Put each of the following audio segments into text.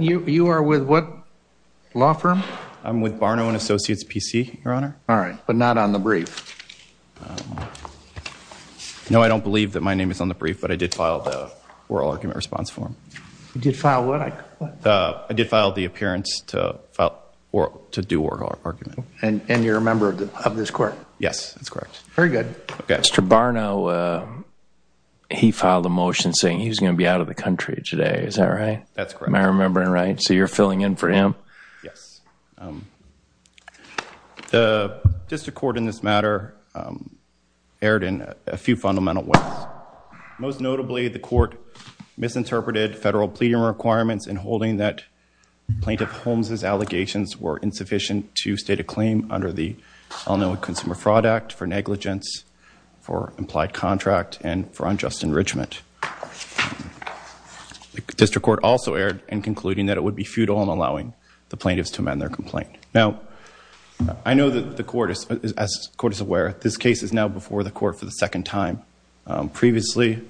You are with what law firm? I'm with Barnault & Associates, PC, Your Honor. All right, but not on the brief. No, I don't believe that my name is on the brief, but I did file the oral argument response form. You did file what? I did file the appearance to do oral argument. And you're a member of this court? Yes, that's correct. Very good. Mr. Barnault, he filed a motion saying he was going to be out of the country today, is that right? That's correct. Am I remembering right? So you're filling in for him? Yes. The district court in this matter erred in a few fundamental ways. Most notably, the court misinterpreted federal pleading requirements in holding that it was insufficient to state a claim under the all-knowing Consumer Fraud Act for negligence, for implied contract, and for unjust enrichment. The district court also erred in concluding that it would be futile in allowing the plaintiffs to amend their complaint. Now, I know that the court is, as the court is aware, this case is now before the court for the second time. Previously,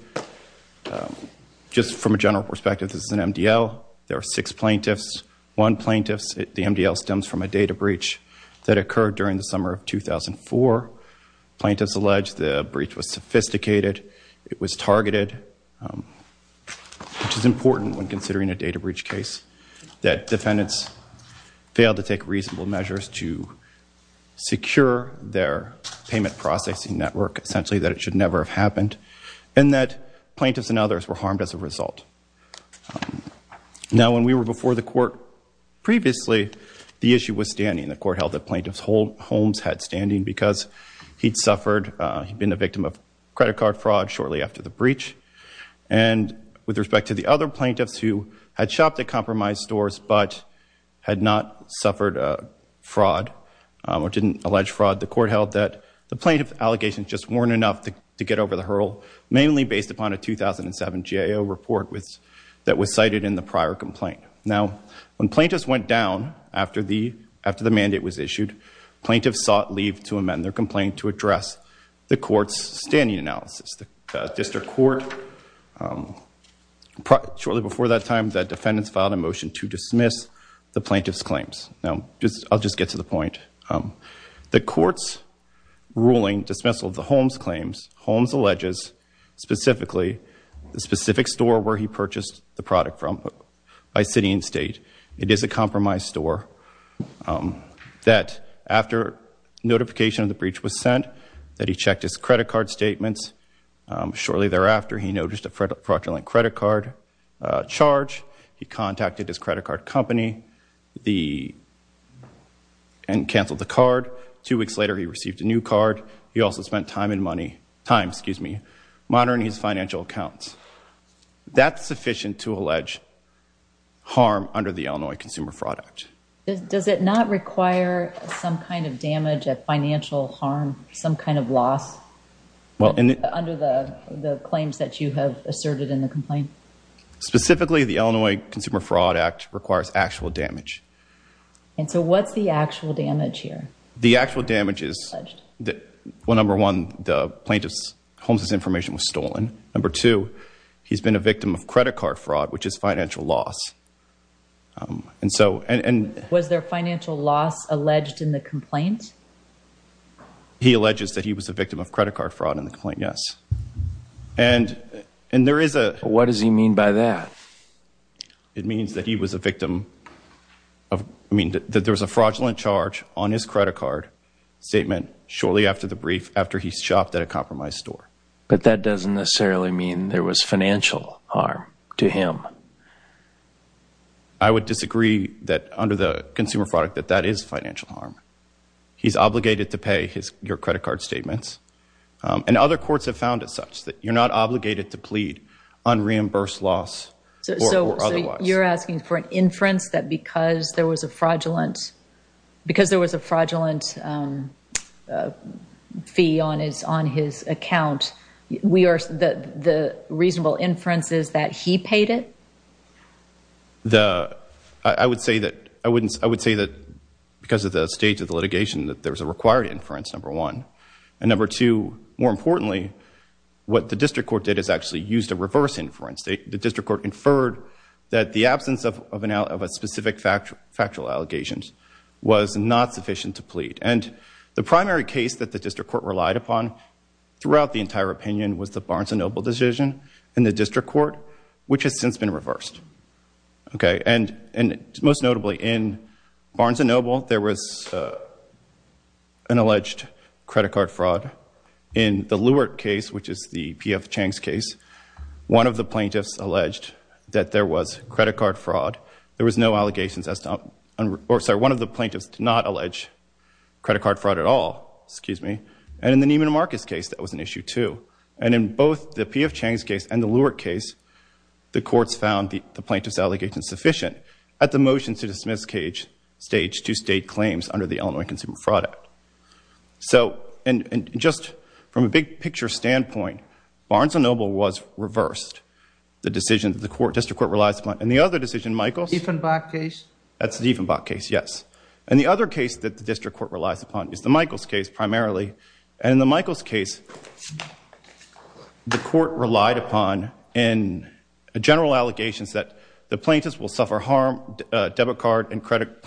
just from a general perspective, this is an MDL. There are six plaintiffs. One plaintiff, the MDL stems from a data breach that occurred during the summer of 2004. Plaintiffs alleged the breach was sophisticated, it was targeted, which is important when considering a data breach case. That defendants failed to take reasonable measures to secure their payment processing network, essentially that it should never have happened, and that plaintiffs and others were harmed as a result. Now, when we were before the court previously, the issue was standing. The court held that plaintiffs' homes had standing because he'd suffered, he'd been a victim of credit card fraud shortly after the breach. And with respect to the other plaintiffs who had shopped at compromised stores but had not suffered fraud, or didn't allege fraud, the court held that the plaintiff allegations just weren't enough to get over the hurdle, mainly based upon a 2007 GAO report that was cited in the prior complaint. Now, when plaintiffs went down after the mandate was issued, plaintiffs sought leave to amend their complaint to address the court's standing analysis. Shortly before that time, the defendants filed a motion to dismiss the plaintiffs' claims. The court's ruling dismissal of the Holmes claims, Holmes alleges specifically the specific store where he purchased the product from by city and state. It is a compromised store that after notification of the breach was sent, that he checked his credit card statements. Shortly thereafter, he noticed a fraudulent credit card charge. He contacted his credit card company and canceled the card. Two weeks later, he received a new card. He also spent time monitoring his financial accounts. That's sufficient to allege harm under the Illinois Consumer Fraud Act. Does it not require some kind of damage, a financial harm, some kind of loss, under the claims that you have asserted in the complaint? Specifically, the Illinois Consumer Fraud Act requires actual damage. And so what's the actual damage here? Well, number one, the plaintiff's information was stolen. Number two, he's been a victim of credit card fraud, which is financial loss. Was there financial loss alleged in the complaint? He alleges that he was a victim of credit card fraud in the complaint, yes. What does he mean by that? It means that he was a victim of, I mean, that there was a fraudulent charge on his credit card statement shortly after the brief, after he shopped at a compromised store. But that doesn't necessarily mean there was financial harm to him. I would disagree that under the Consumer Fraud Act that that is financial harm. He's obligated to pay your credit card statements. And other courts have found it such that you're not obligated to plead unreimbursed loss or otherwise. So you're asking for an inference that because there was a fraudulent fee on his account, the reasonable inference is that he paid it? I would say that because of the stage of the litigation that there was a required inference, number one. And number two, more importantly, what the district court did is actually used a reverse inference. The district court inferred that the absence of a specific factual allegations was not sufficient to plead. And the primary case that the district court relied upon throughout the entire opinion was the Barnes & Noble decision in the district court, which has since been reversed. And most notably, in Barnes & Noble, there was an alleged credit card fraud. In the Lewert case, which is the P.F. Chang's case, one of the plaintiffs alleged that there was credit card fraud. There was no allegations. One of the plaintiffs did not allege credit card fraud at all. And in the Neiman Marcus case, that was an issue, too. And in both the P.F. Chang's case and the Lewert case, the courts found the plaintiff's allegations sufficient at the motion to dismiss stage to state claims under the Illinois Consumer Fraud Act. And just from a big-picture standpoint, Barnes & Noble was reversed. The decision that the district court relies upon. And the other decision, Michael's... Dieffenbach case? That's the Dieffenbach case, yes. And the other case that the district court relies upon is the Michaels case, primarily. And in the Michaels case, the court relied upon, in general allegations, that the plaintiffs will suffer harm, debit card and credit...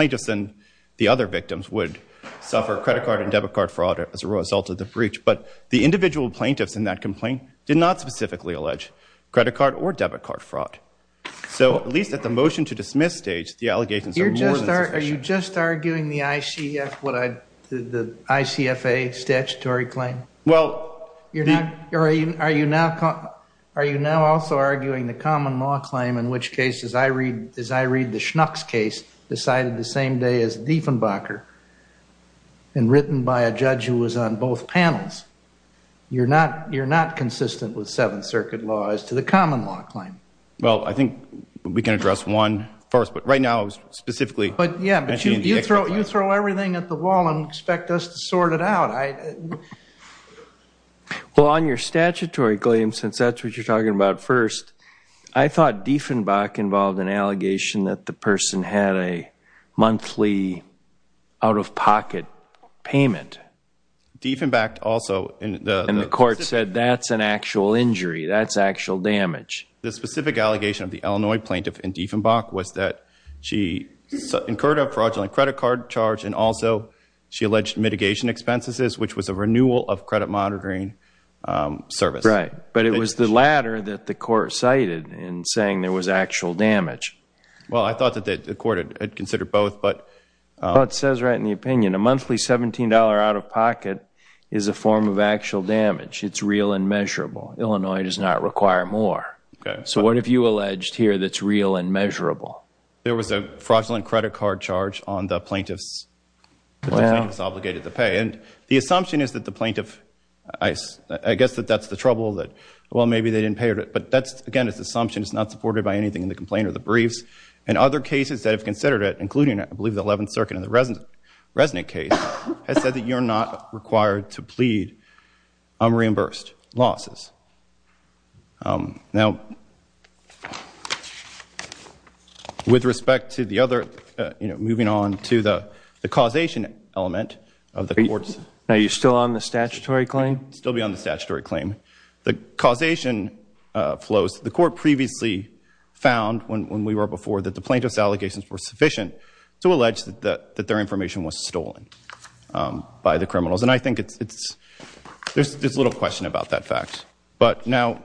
debit card fraud as a result of the breach. But the individual plaintiffs in that complaint did not specifically allege credit card or debit card fraud. So at least at the motion to dismiss stage, the allegations are more than sufficient. Are you just arguing the ICF, the ICFA statutory claim? Well... Are you now also arguing the common law claim, in which case, as I read the Schnucks case, decided the same day as Dieffenbacher, and written by a judge who was on both panels, you're not consistent with Seventh Circuit law as to the common law claim? Well, I think we can address one first, but right now, specifically... But, yeah, but you throw everything at the wall and expect us to sort it out. Well, on your statutory claim, since that's what you're talking about first, I thought Dieffenbach involved an allegation that the person had a monthly out-of-pocket payment. Dieffenbach also... And the court said that's an actual injury, that's actual damage. The specific allegation of the Illinois plaintiff in Dieffenbach was that she incurred a fraudulent credit card charge and also she alleged mitigation expenses, which was a renewal of credit monitoring service. Right, but it was the latter that the court cited in saying there was actual damage. Well, I thought that the court had considered both, but... Well, it says right in the opinion, a monthly $17 out-of-pocket is a form of actual damage. It's real and measurable. Illinois does not require more. So what have you alleged here that's real and measurable? There was a fraudulent credit card charge on the plaintiff's... Well... Well, maybe they didn't pay her, but that's, again, it's an assumption. It's not supported by anything in the complaint or the briefs. And other cases that have considered it, including, I believe, the 11th Circuit and the Resnick case, has said that you're not required to plead unreimbursed losses. Now, with respect to the other, you know, moving on to the causation element of the courts... Now, you're still on the statutory claim? Still be on the statutory claim. The causation flows. The court previously found, when we were before, that the plaintiff's allegations were sufficient to allege that their information was stolen by the criminals. And I think it's... There's little question about that fact. But now,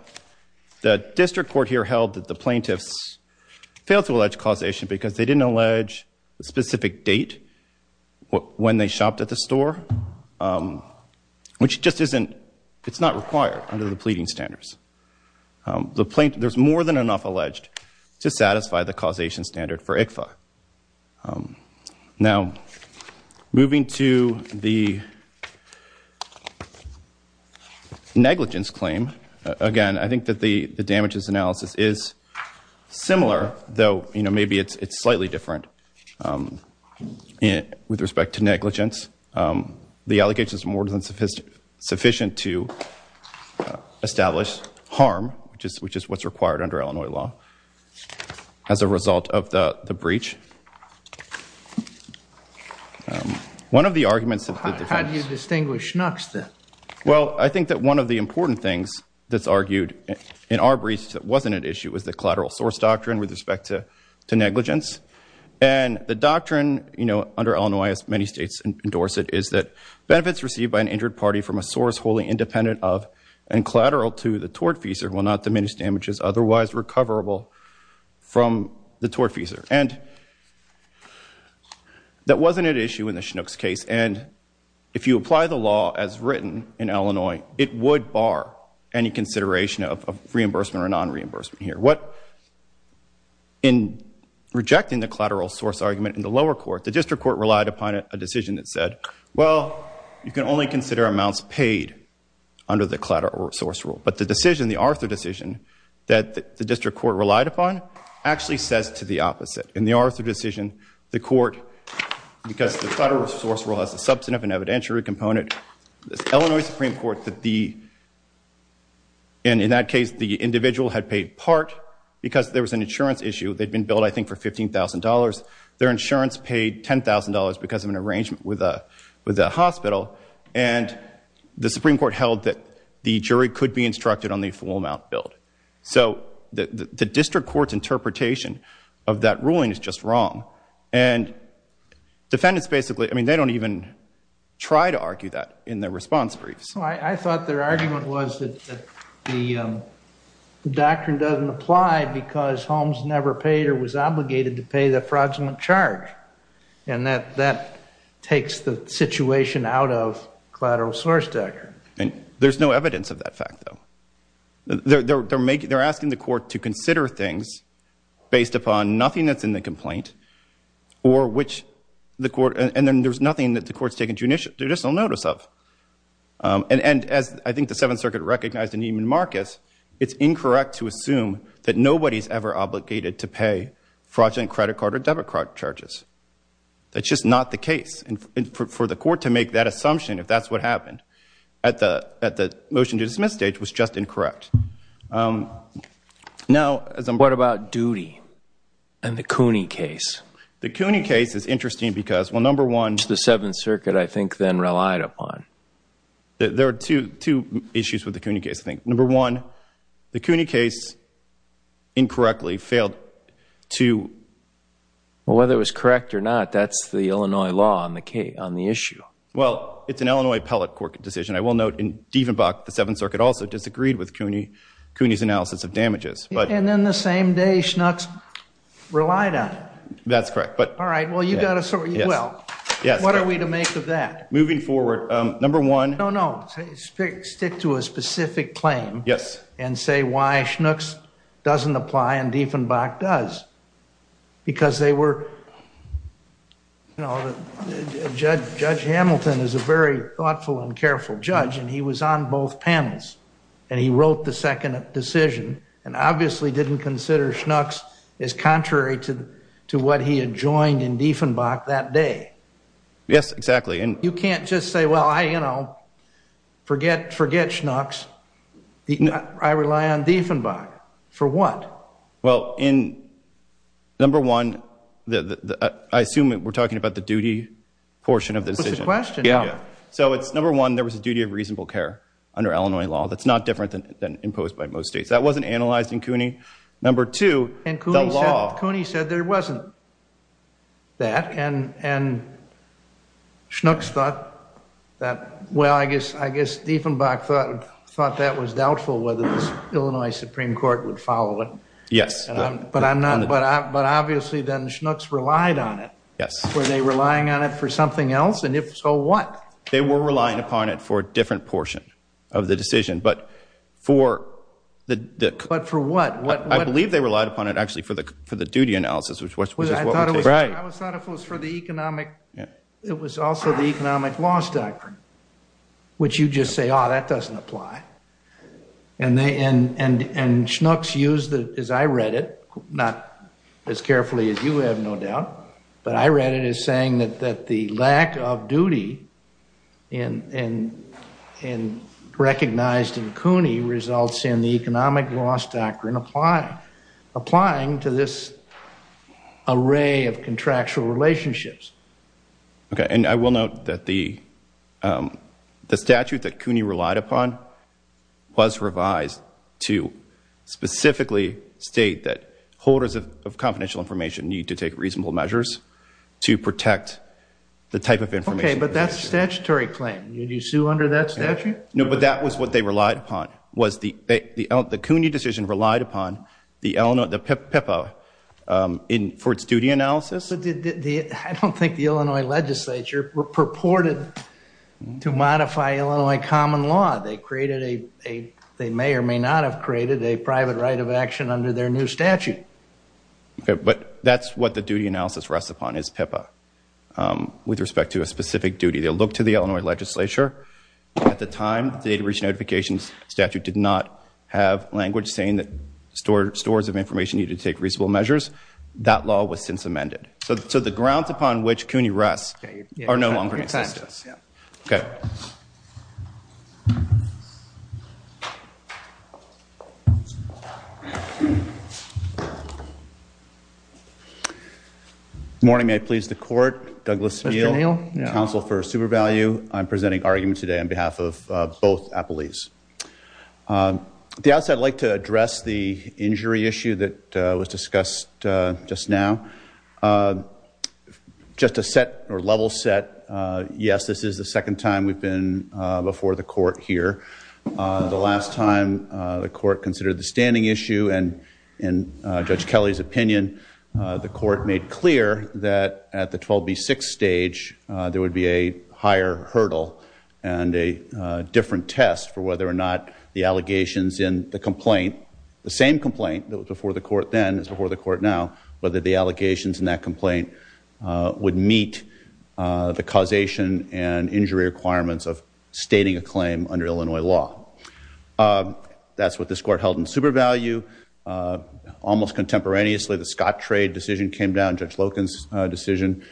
the district court here held that the plaintiffs failed to allege causation because they didn't allege a specific date when they shopped at the store, which just isn't... It's not required under the pleading standards. There's more than enough alleged to satisfy the causation standard for ICFA. Now, moving to the negligence claim, again, I think that the damages analysis is similar, though, you know, maybe it's slightly different with respect to negligence. The allegations are more than sufficient to establish harm, which is what's required under Illinois law, as a result of the breach. One of the arguments... How do you distinguish Schnucks, then? Well, I think that one of the important things that's argued in our breach that wasn't at issue was the collateral source doctrine with respect to negligence. And the doctrine, you know, under Illinois, as many states endorse it, is that benefits received by an injured party from a source wholly independent of and collateral to the tortfeasor will not diminish damages otherwise recoverable from the tortfeasor. And that wasn't at issue in the Schnucks case. And if you apply the law as written in Illinois, it would bar any consideration of reimbursement or non-reimbursement here. In rejecting the collateral source argument in the lower court, the district court relied upon a decision that said, well, you can only consider amounts paid under the collateral source rule. But the decision, the Arthur decision, that the district court relied upon actually says to the opposite. In the Arthur decision, the court, because the collateral source rule has a substantive and evidentiary component, the Illinois Supreme Court, in that case, the individual had paid part because there was an insurance issue. They'd been billed, I think, for $15,000. Their insurance paid $10,000 because of an arrangement with a hospital. And the Supreme Court held that the jury could be instructed on the full amount billed. So the district court's interpretation of that ruling is just wrong. And defendants basically, I mean, they don't even try to argue that in their response briefs. I thought their argument was that the doctrine doesn't apply because Holmes never paid or was obligated to pay the fraudulent charge. And that that takes the situation out of collateral source doctrine. And there's no evidence of that fact, though. They're asking the court to consider things based upon nothing that's in the complaint or which the court, and then there's nothing that the court's taking judicial notice of. And as I think the Seventh Circuit recognized in Neiman Marcus, it's incorrect to assume that nobody's ever obligated to pay fraudulent credit card or debit card charges. That's just not the case. And for the court to make that assumption, if that's what happened at the motion to dismiss stage, was just incorrect. Now, as I'm. What about Doody and the Cooney case? The Cooney case is interesting because, well, number one. The Seventh Circuit, I think, then relied upon. There are two issues with the Cooney case, I think. Number one, the Cooney case incorrectly failed to. Well, whether it was correct or not, that's the Illinois law on the case on the issue. Well, it's an Illinois appellate court decision. I will note in Dieffenbach, the Seventh Circuit also disagreed with Cooney. Cooney's analysis of damages. And then the same day, Schnucks relied on. That's correct. But. All right. Well, you got to. Well, what are we to make of that? Moving forward. Number one. No, no. Stick to a specific claim. Yes. And say why Schnucks doesn't apply and Dieffenbach does. Because they were. Judge Hamilton is a very thoughtful and careful judge. And he was on both panels. And he wrote the second decision. And obviously didn't consider Schnucks as contrary to what he had joined in Dieffenbach that day. Yes, exactly. You can't just say, well, I, you know, forget forget Schnucks. I rely on Dieffenbach. For what? Well, in. Number one. I assume we're talking about the duty portion of this question. Yeah. So it's number one. There was a duty of reasonable care under Illinois law. That's not different than imposed by most states. That wasn't analyzed in Cooney. Number two. Cooney said there wasn't. That and and. Schnucks thought that. Well, I guess I guess Dieffenbach thought that was doubtful whether the Illinois Supreme Court would follow it. Yes. But I'm not. But obviously then Schnucks relied on it. Yes. Were they relying on it for something else? And if so, what? They were relying upon it for a different portion of the decision. But for the. But for what? I believe they relied upon it actually for the for the duty analysis, which was. Right. I thought it was for the economic. Yeah. It was also the economic loss doctrine. Which you just say, oh, that doesn't apply. And they and and and Schnucks use that as I read it. Not as carefully as you have no doubt. But I read it as saying that that the lack of duty. And and and recognized in Cooney results in the economic loss doctrine apply. Applying to this. Array of contractual relationships. OK, and I will note that the the statute that Cooney relied upon. Was revised to specifically state that holders of confidential information need to take reasonable measures to protect the type of information. But that's a statutory claim. You do sue under that statute. No, but that was what they relied upon. The Cooney decision relied upon the Illinois PIPA for its duty analysis. I don't think the Illinois legislature purported to modify Illinois common law. They created a they may or may not have created a private right of action under their new statute. But that's what the duty analysis rests upon is PIPA with respect to a specific duty. They look to the Illinois legislature. At the time, they reach notifications. Statute did not have language saying that store stores of information need to take reasonable measures. That law was since amended. So the grounds upon which Cooney rests are no longer in existence. OK. Morning, I please the court. Counsel for super value. I'm presenting argument today on behalf of both police. The outset like to address the injury issue that was discussed just now. Just a set or level set. Yes, this is the second time we've been before the court here. The last time the court considered the standing issue and in Judge Kelly's opinion. The court made clear that at the 12B6 stage, there would be a higher hurdle and a different test for whether or not the allegations in the complaint. The same complaint that was before the court then is before the court now. Whether the allegations in that complaint would meet the causation and injury requirements of stating a claim under Illinois law. That's what this court held in super value. Almost contemporaneously, the Scott trade decision came down. Judge Loken's decision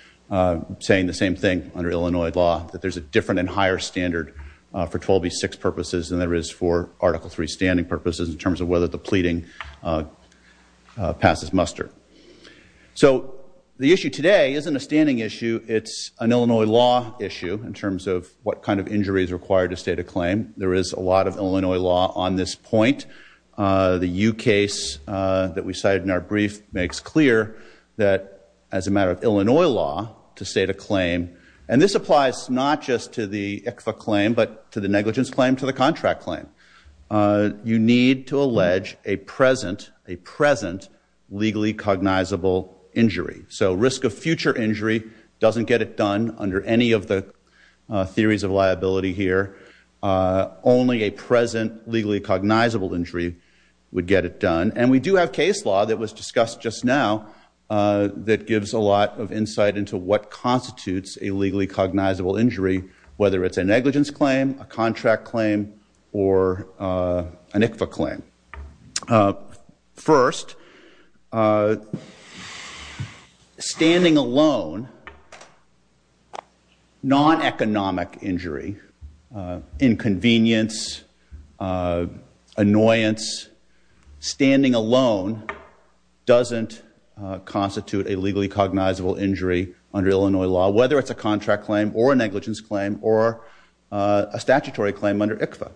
saying the same thing under Illinois law. That there's a different and higher standard for 12B6 purposes than there is for Article 3 standing purposes in terms of whether the pleading passes muster. So the issue today isn't a standing issue. It's an Illinois law issue in terms of what kind of injuries required to state a claim. There is a lot of Illinois law on this point. The U case that we cited in our brief makes clear that as a matter of Illinois law to state a claim. And this applies not just to the ICFA claim, but to the negligence claim, to the contract claim. You need to allege a present legally cognizable injury. So risk of future injury doesn't get it done under any of the theories of liability here. Only a present legally cognizable injury would get it done. And we do have case law that was discussed just now that gives a lot of insight into what constitutes a legally cognizable injury. Whether it's a negligence claim, a contract claim, or an ICFA claim. First, standing alone, non-economic injury, inconvenience, annoyance, standing alone doesn't constitute a legally cognizable injury under Illinois law. Whether it's a contract claim or a negligence claim or a statutory claim under ICFA.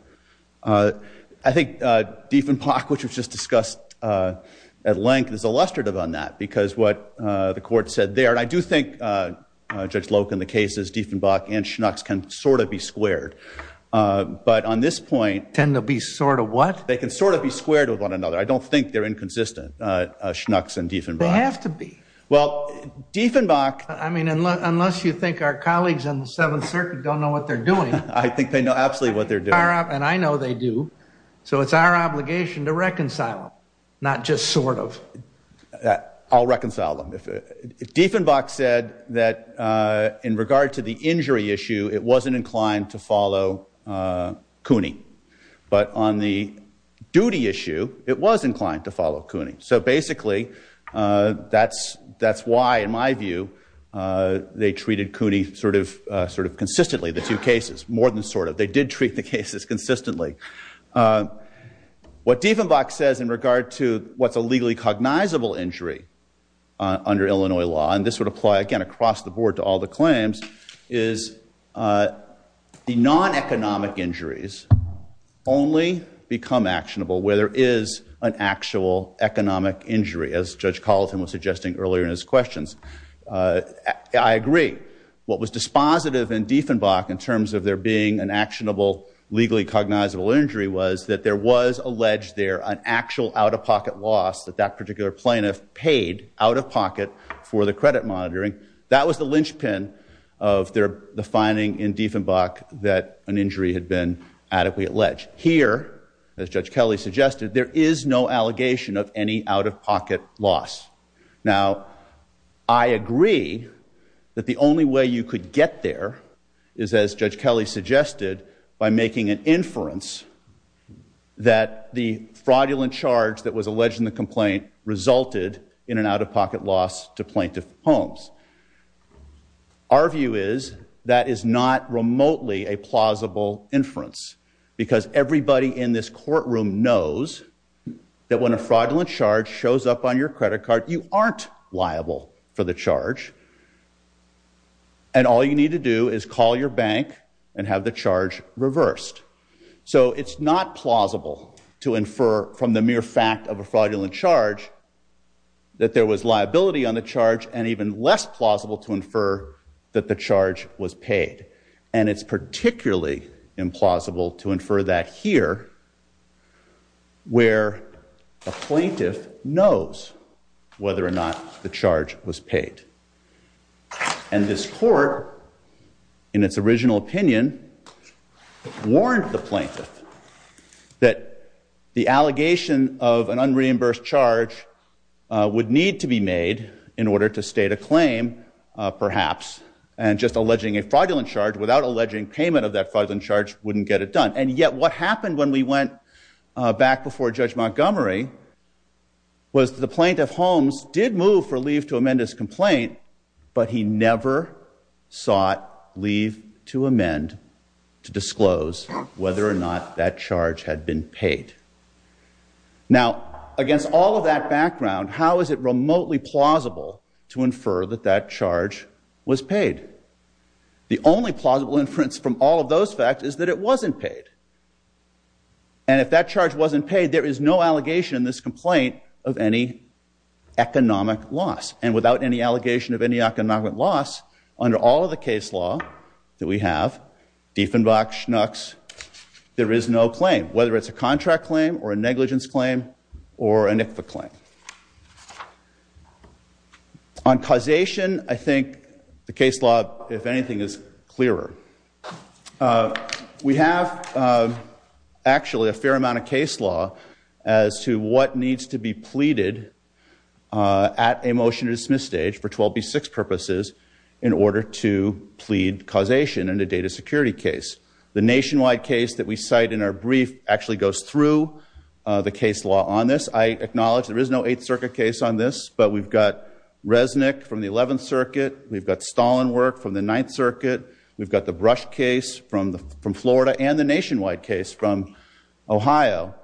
I think Dieffenbach, which was just discussed at length, is illustrative on that. Because what the court said there, and I do think, Judge Loke, in the cases Dieffenbach and Schnucks can sort of be squared. But on this point... Tend to be sort of what? They can sort of be squared with one another. I don't think they're inconsistent, Schnucks and Dieffenbach. They have to be. Well, Dieffenbach... I mean, unless you think our colleagues on the Seventh Circuit don't know what they're doing. I think they know absolutely what they're doing. And I know they do. So it's our obligation to reconcile them, not just sort of. I'll reconcile them. Dieffenbach said that in regard to the injury issue, it wasn't inclined to follow Cooney. But on the duty issue, it was inclined to follow Cooney. So basically, that's why, in my view, they treated Cooney sort of consistently, the two cases, more than sort of. They did treat the cases consistently. What Dieffenbach says in regard to what's a legally cognizable injury under Illinois law, and this would apply, again, across the board to all the claims, is the non-economic injuries only become actionable where there is an actual economic injury, as Judge Colleton was suggesting earlier in his questions. I agree. What was dispositive in Dieffenbach in terms of there being an actionable, legally cognizable injury was that there was alleged there an actual out-of-pocket loss that that particular plaintiff paid out-of-pocket for the credit monitoring. That was the linchpin of the finding in Dieffenbach that an injury had been adequately alleged. Here, as Judge Kelly suggested, there is no allegation of any out-of-pocket loss. Now, I agree that the only way you could get there is, as Judge Kelly suggested, by making an inference that the fraudulent charge that was alleged in the complaint resulted in an out-of-pocket loss to plaintiff Holmes. Our view is that is not remotely a plausible inference because everybody in this courtroom knows that when a fraudulent charge shows up on your credit card, you aren't liable for the charge, and all you need to do is call your bank and have the charge reversed. So it's not plausible to infer from the mere fact of a fraudulent charge that there was liability on the charge and even less plausible to infer that the charge was paid. And it's particularly implausible to infer that here, where a plaintiff knows whether or not the charge was paid. And this court, in its original opinion, warned the plaintiff that the allegation of an unreimbursed charge would need to be made in order to state a claim, perhaps, and just alleging a fraudulent charge without alleging payment of that fraudulent charge wouldn't get it done. And yet what happened when we went back before Judge Montgomery was the plaintiff Holmes did move for leave to amend his complaint, but he never sought leave to amend to disclose whether or not that charge had been paid. Now, against all of that background, how is it remotely plausible to infer that that charge was paid? The only plausible inference from all of those facts is that it wasn't paid. And if that charge wasn't paid, there is no allegation in this complaint of any economic loss. And without any allegation of any economic loss, under all of the case law that we have, Dieffenbach, Schnucks, there is no claim. Whether it's a contract claim or a negligence claim or a NIFA claim. On causation, I think the case law, if anything, is clearer. We have, actually, a fair amount of case law as to what needs to be pleaded at a motion to dismiss stage for 12B6 purposes in order to plead causation in a data security case. The nationwide case that we cite in our brief actually goes through the case law on this. I acknowledge there is no Eighth Circuit case on this, but we've got Resnick from the Eleventh Circuit. We've got Stollenwerk from the Ninth Circuit. We've got the Brush case from Florida and the nationwide case from Ohio.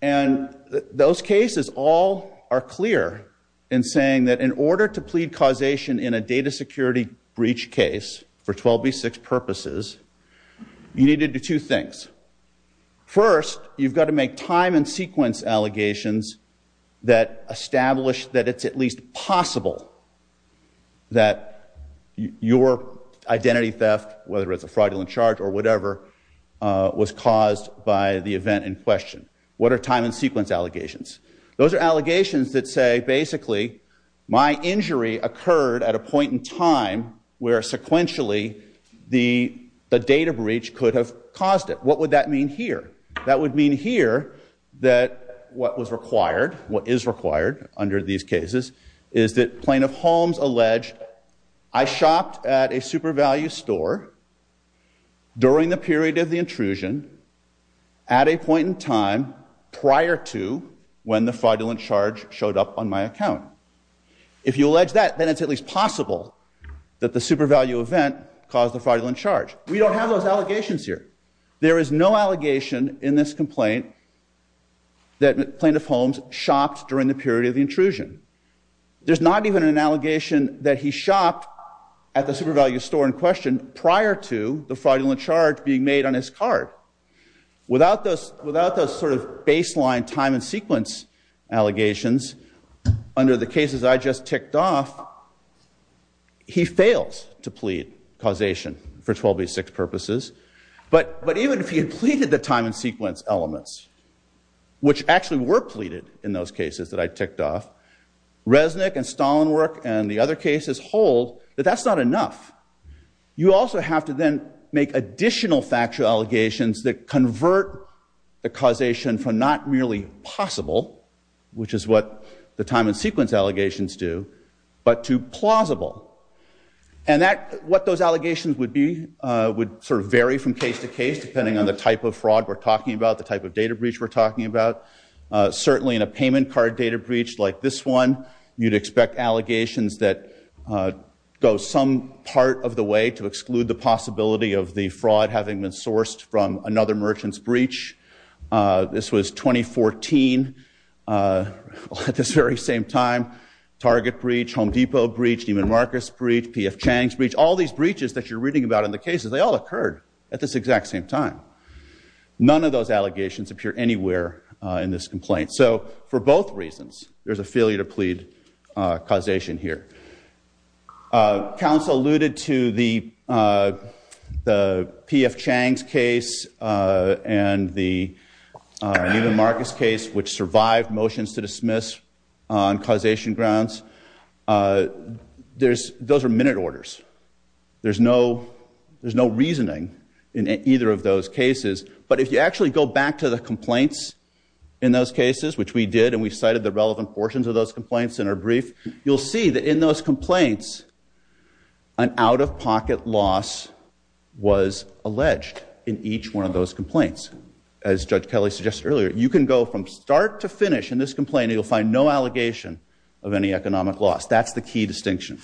And those cases all are clear in saying that in order to plead causation in a data security breach case for 12B6 purposes, you need to do two things. First, you've got to make time and sequence allegations that establish that it's at least possible that your identity theft, whether it's a fraudulent charge or whatever, was caused by the event in question. What are time and sequence allegations? Those are allegations that say, basically, my injury occurred at a point in time where sequentially the data breach could have caused it. What would that mean here? That would mean here that what was required, what is required under these cases, is that Plaintiff Holmes alleged, I shopped at a Super Value store during the period of the intrusion at a point in time prior to when the fraudulent charge showed up on my account. If you allege that, then it's at least possible that the Super Value event caused the fraudulent charge. We don't have those allegations here. There is no allegation in this complaint that Plaintiff Holmes shopped during the period of the intrusion. There's not even an allegation that he shopped at the Super Value store in question prior to the fraudulent charge being made on his card. Without those sort of baseline time and sequence allegations under the cases I just ticked off, he fails to plead causation for 12B6 purposes. But even if he had pleaded the time and sequence elements, which actually were pleaded in those cases that I ticked off, Resnick and Stollenwerk and the other cases hold that that's not enough. You also have to then make additional factual allegations that convert the causation from not merely possible, which is what the time and sequence allegations do, but to plausible. And what those allegations would be would sort of vary from case to case, depending on the type of fraud we're talking about, the type of data breach we're talking about. Certainly in a payment card data breach like this one, you'd expect allegations that go some part of the way to exclude the possibility of the fraud having been sourced from another merchant's breach. This was 2014 at this very same time. Target breach, Home Depot breach, Neiman Marcus breach, P.F. Chang's breach. All these breaches that you're reading about in the cases, they all occurred at this exact same time. None of those allegations appear anywhere in this complaint. So for both reasons, there's a failure to plead causation here. Council alluded to the P.F. Chang's case and the Neiman Marcus case, which survived motions to dismiss on causation grounds. Those are minute orders. There's no reasoning in either of those cases. But if you actually go back to the complaints in those cases, which we did, and we cited the relevant portions of those complaints in our brief, you'll see that in those complaints an out-of-pocket loss was alleged in each one of those complaints. As Judge Kelly suggested earlier, you can go from start to finish in this complaint, and you'll find no allegation of any economic loss. That's the key distinction.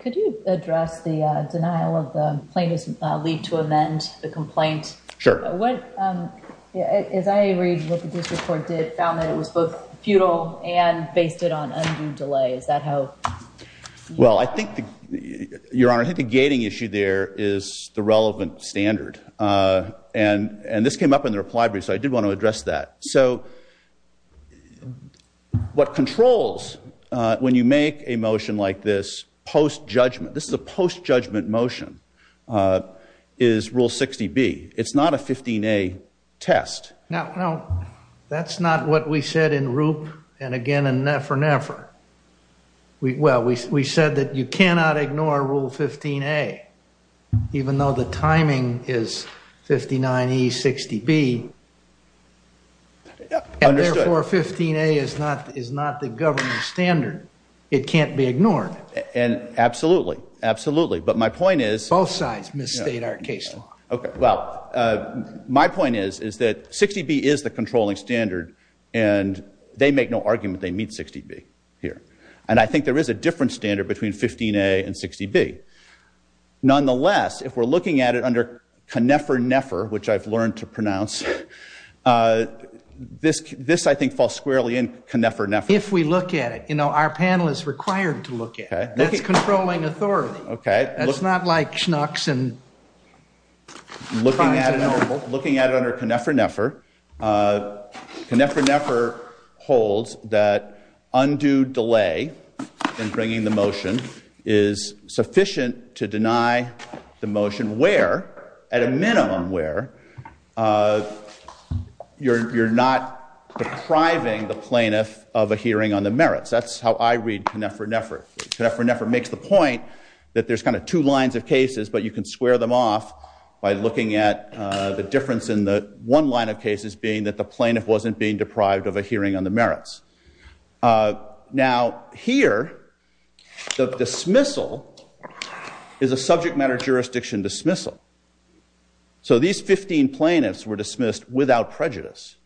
Could you address the denial of the plaintiff's leave to amend the complaint? Sure. As I read what the district court did, it found that it was both futile and based it on undue delay. Is that how? Well, I think, Your Honor, I think the gating issue there is the relevant standard. And this came up in the reply brief, so I did want to address that. So what controls when you make a motion like this post-judgment, this is a post-judgment motion, is Rule 60B. It's not a 15A test. Now, that's not what we said in Roop and again in Nefer Nefer. Well, we said that you cannot ignore Rule 15A, even though the timing is 59E, 60B. Understood. And therefore, 15A is not the governing standard. It can't be ignored. And absolutely, absolutely. But my point is- Both sides misstate our case law. Okay. Well, my point is that 60B is the controlling standard, and they make no argument they meet 60B here. And I think there is a different standard between 15A and 60B. Nonetheless, if we're looking at it under Kneffer Nefer, which I've learned to pronounce, this, I think, falls squarely in Kneffer Nefer. If we look at it, you know, our panel is required to look at it. That's controlling authority. That's not like Schnucks and- Looking at it under Kneffer Nefer, Kneffer Nefer holds that undue delay in bringing the motion is sufficient to deny the motion, where, at a minimum where, you're not depriving the plaintiff of a hearing on the merits. That's how I read Kneffer Nefer. Kneffer Nefer makes the point that there's kind of two lines of cases, but you can square them off by looking at the difference in the one line of cases being that the plaintiff wasn't being deprived of a hearing on the merits. Now, here, the dismissal is a subject matter jurisdiction dismissal. So these 15 plaintiffs were dismissed without prejudice.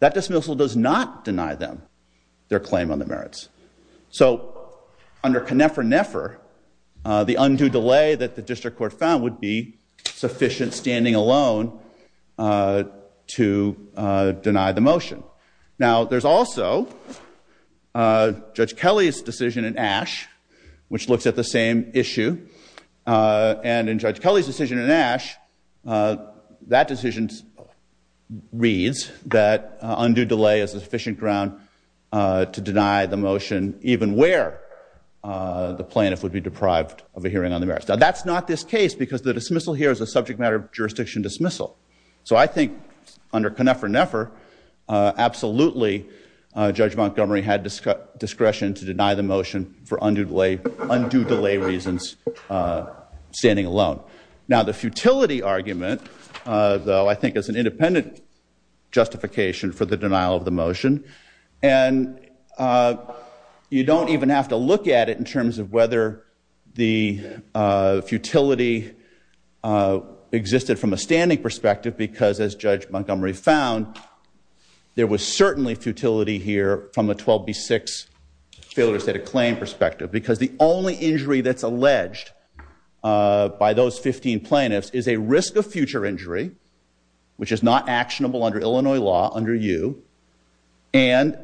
That dismissal does not deny them their claim on the merits. So under Kneffer Nefer, the undue delay that the district court found would be sufficient standing alone to deny the motion. Now, there's also Judge Kelly's decision in Ashe, which looks at the same issue. And in Judge Kelly's decision in Ashe, that decision reads that undue delay is sufficient ground to deny the motion, even where the plaintiff would be deprived of a hearing on the merits. Now, that's not this case because the dismissal here is a subject matter jurisdiction dismissal. So I think under Kneffer Nefer, absolutely, Judge Montgomery had discretion to deny the motion for undue delay reasons standing alone. Now, the futility argument, though, I think is an independent justification for the denial of the motion. And you don't even have to look at it in terms of whether the futility existed from a standing perspective because, as Judge Montgomery found, there was certainly futility here from a 12B6 failure to set a claim perspective because the only injury that's alleged by those 15 plaintiffs is a risk of future injury, which is not actionable under Illinois law under U, and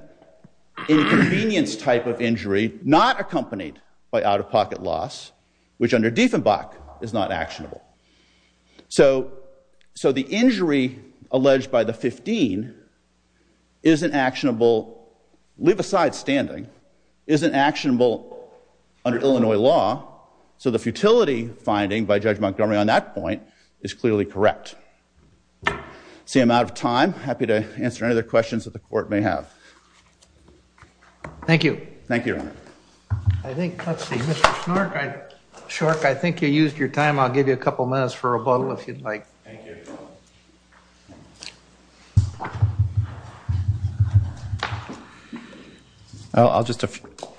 inconvenience type of injury not accompanied by out-of-pocket loss, which under Dieffenbach is not actionable. So the injury alleged by the 15 isn't actionable, leave aside standing, isn't actionable under Illinois law. So the futility finding by Judge Montgomery on that point is clearly correct. See I'm out of time. Happy to answer any other questions that the Court may have. Thank you. Thank you, Your Honor. I think, let's see, Mr. Shork, I think you used your time. I'll give you a couple minutes for rebuttal if you'd like. Thank you. I'll just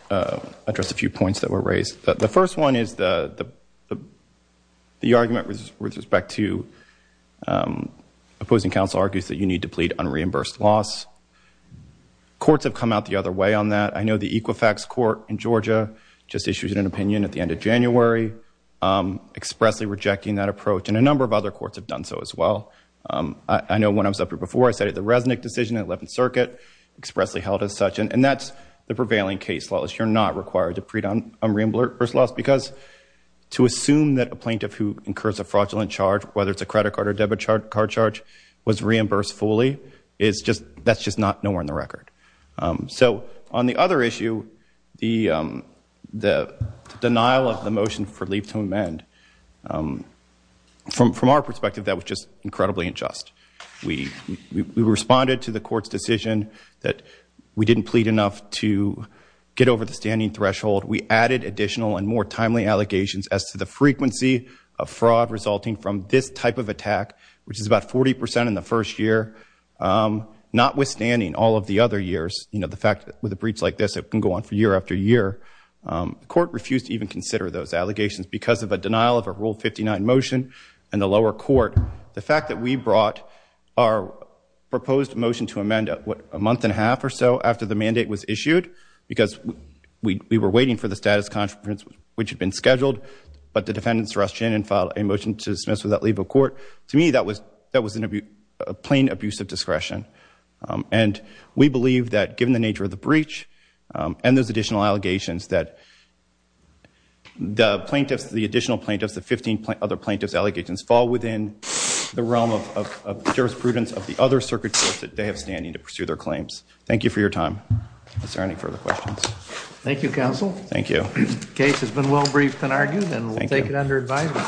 address a few points that were raised. The first one is the argument with respect to opposing counsel argues that you need to plead unreimbursed loss. Courts have come out the other way on that. I know the Equifax Court in Georgia just issued an opinion at the end of January expressly rejecting that approach, and a number of other courts have done so as well. I know when I was up here before I said the Resnick decision in the 11th Circuit expressly held as such, and that's the prevailing case law is you're not required to plead unreimbursed loss because to assume that a plaintiff who incurs a fraudulent charge, whether it's a credit card or debit card charge, was reimbursed fully, that's just not nowhere in the record. So on the other issue, the denial of the motion for leave to amend, from our perspective that was just incredibly unjust. We responded to the court's decision that we didn't plead enough to get over the standing threshold. We added additional and more timely allegations as to the frequency of fraud resulting from this type of attack, which is about 40 percent in the first year, notwithstanding all of the other years. You know, the fact that with a breach like this, it can go on for year after year. The court refused to even consider those allegations because of a denial of a Rule 59 motion in the lower court. The fact that we brought our proposed motion to amend a month and a half or so after the mandate was issued because we were waiting for the status conference, which had been scheduled, but the defendants rushed in and filed a motion to dismiss without leave of court, to me that was a plain abuse of discretion. And we believe that given the nature of the breach and those additional allegations that the plaintiffs, the 15 other plaintiffs' allegations fall within the realm of jurisprudence of the other circuit courts that they have standing to pursue their claims. Thank you for your time. Is there any further questions? Thank you, counsel. Thank you. The case has been well briefed and argued, and we'll take it under advisement. Thank you.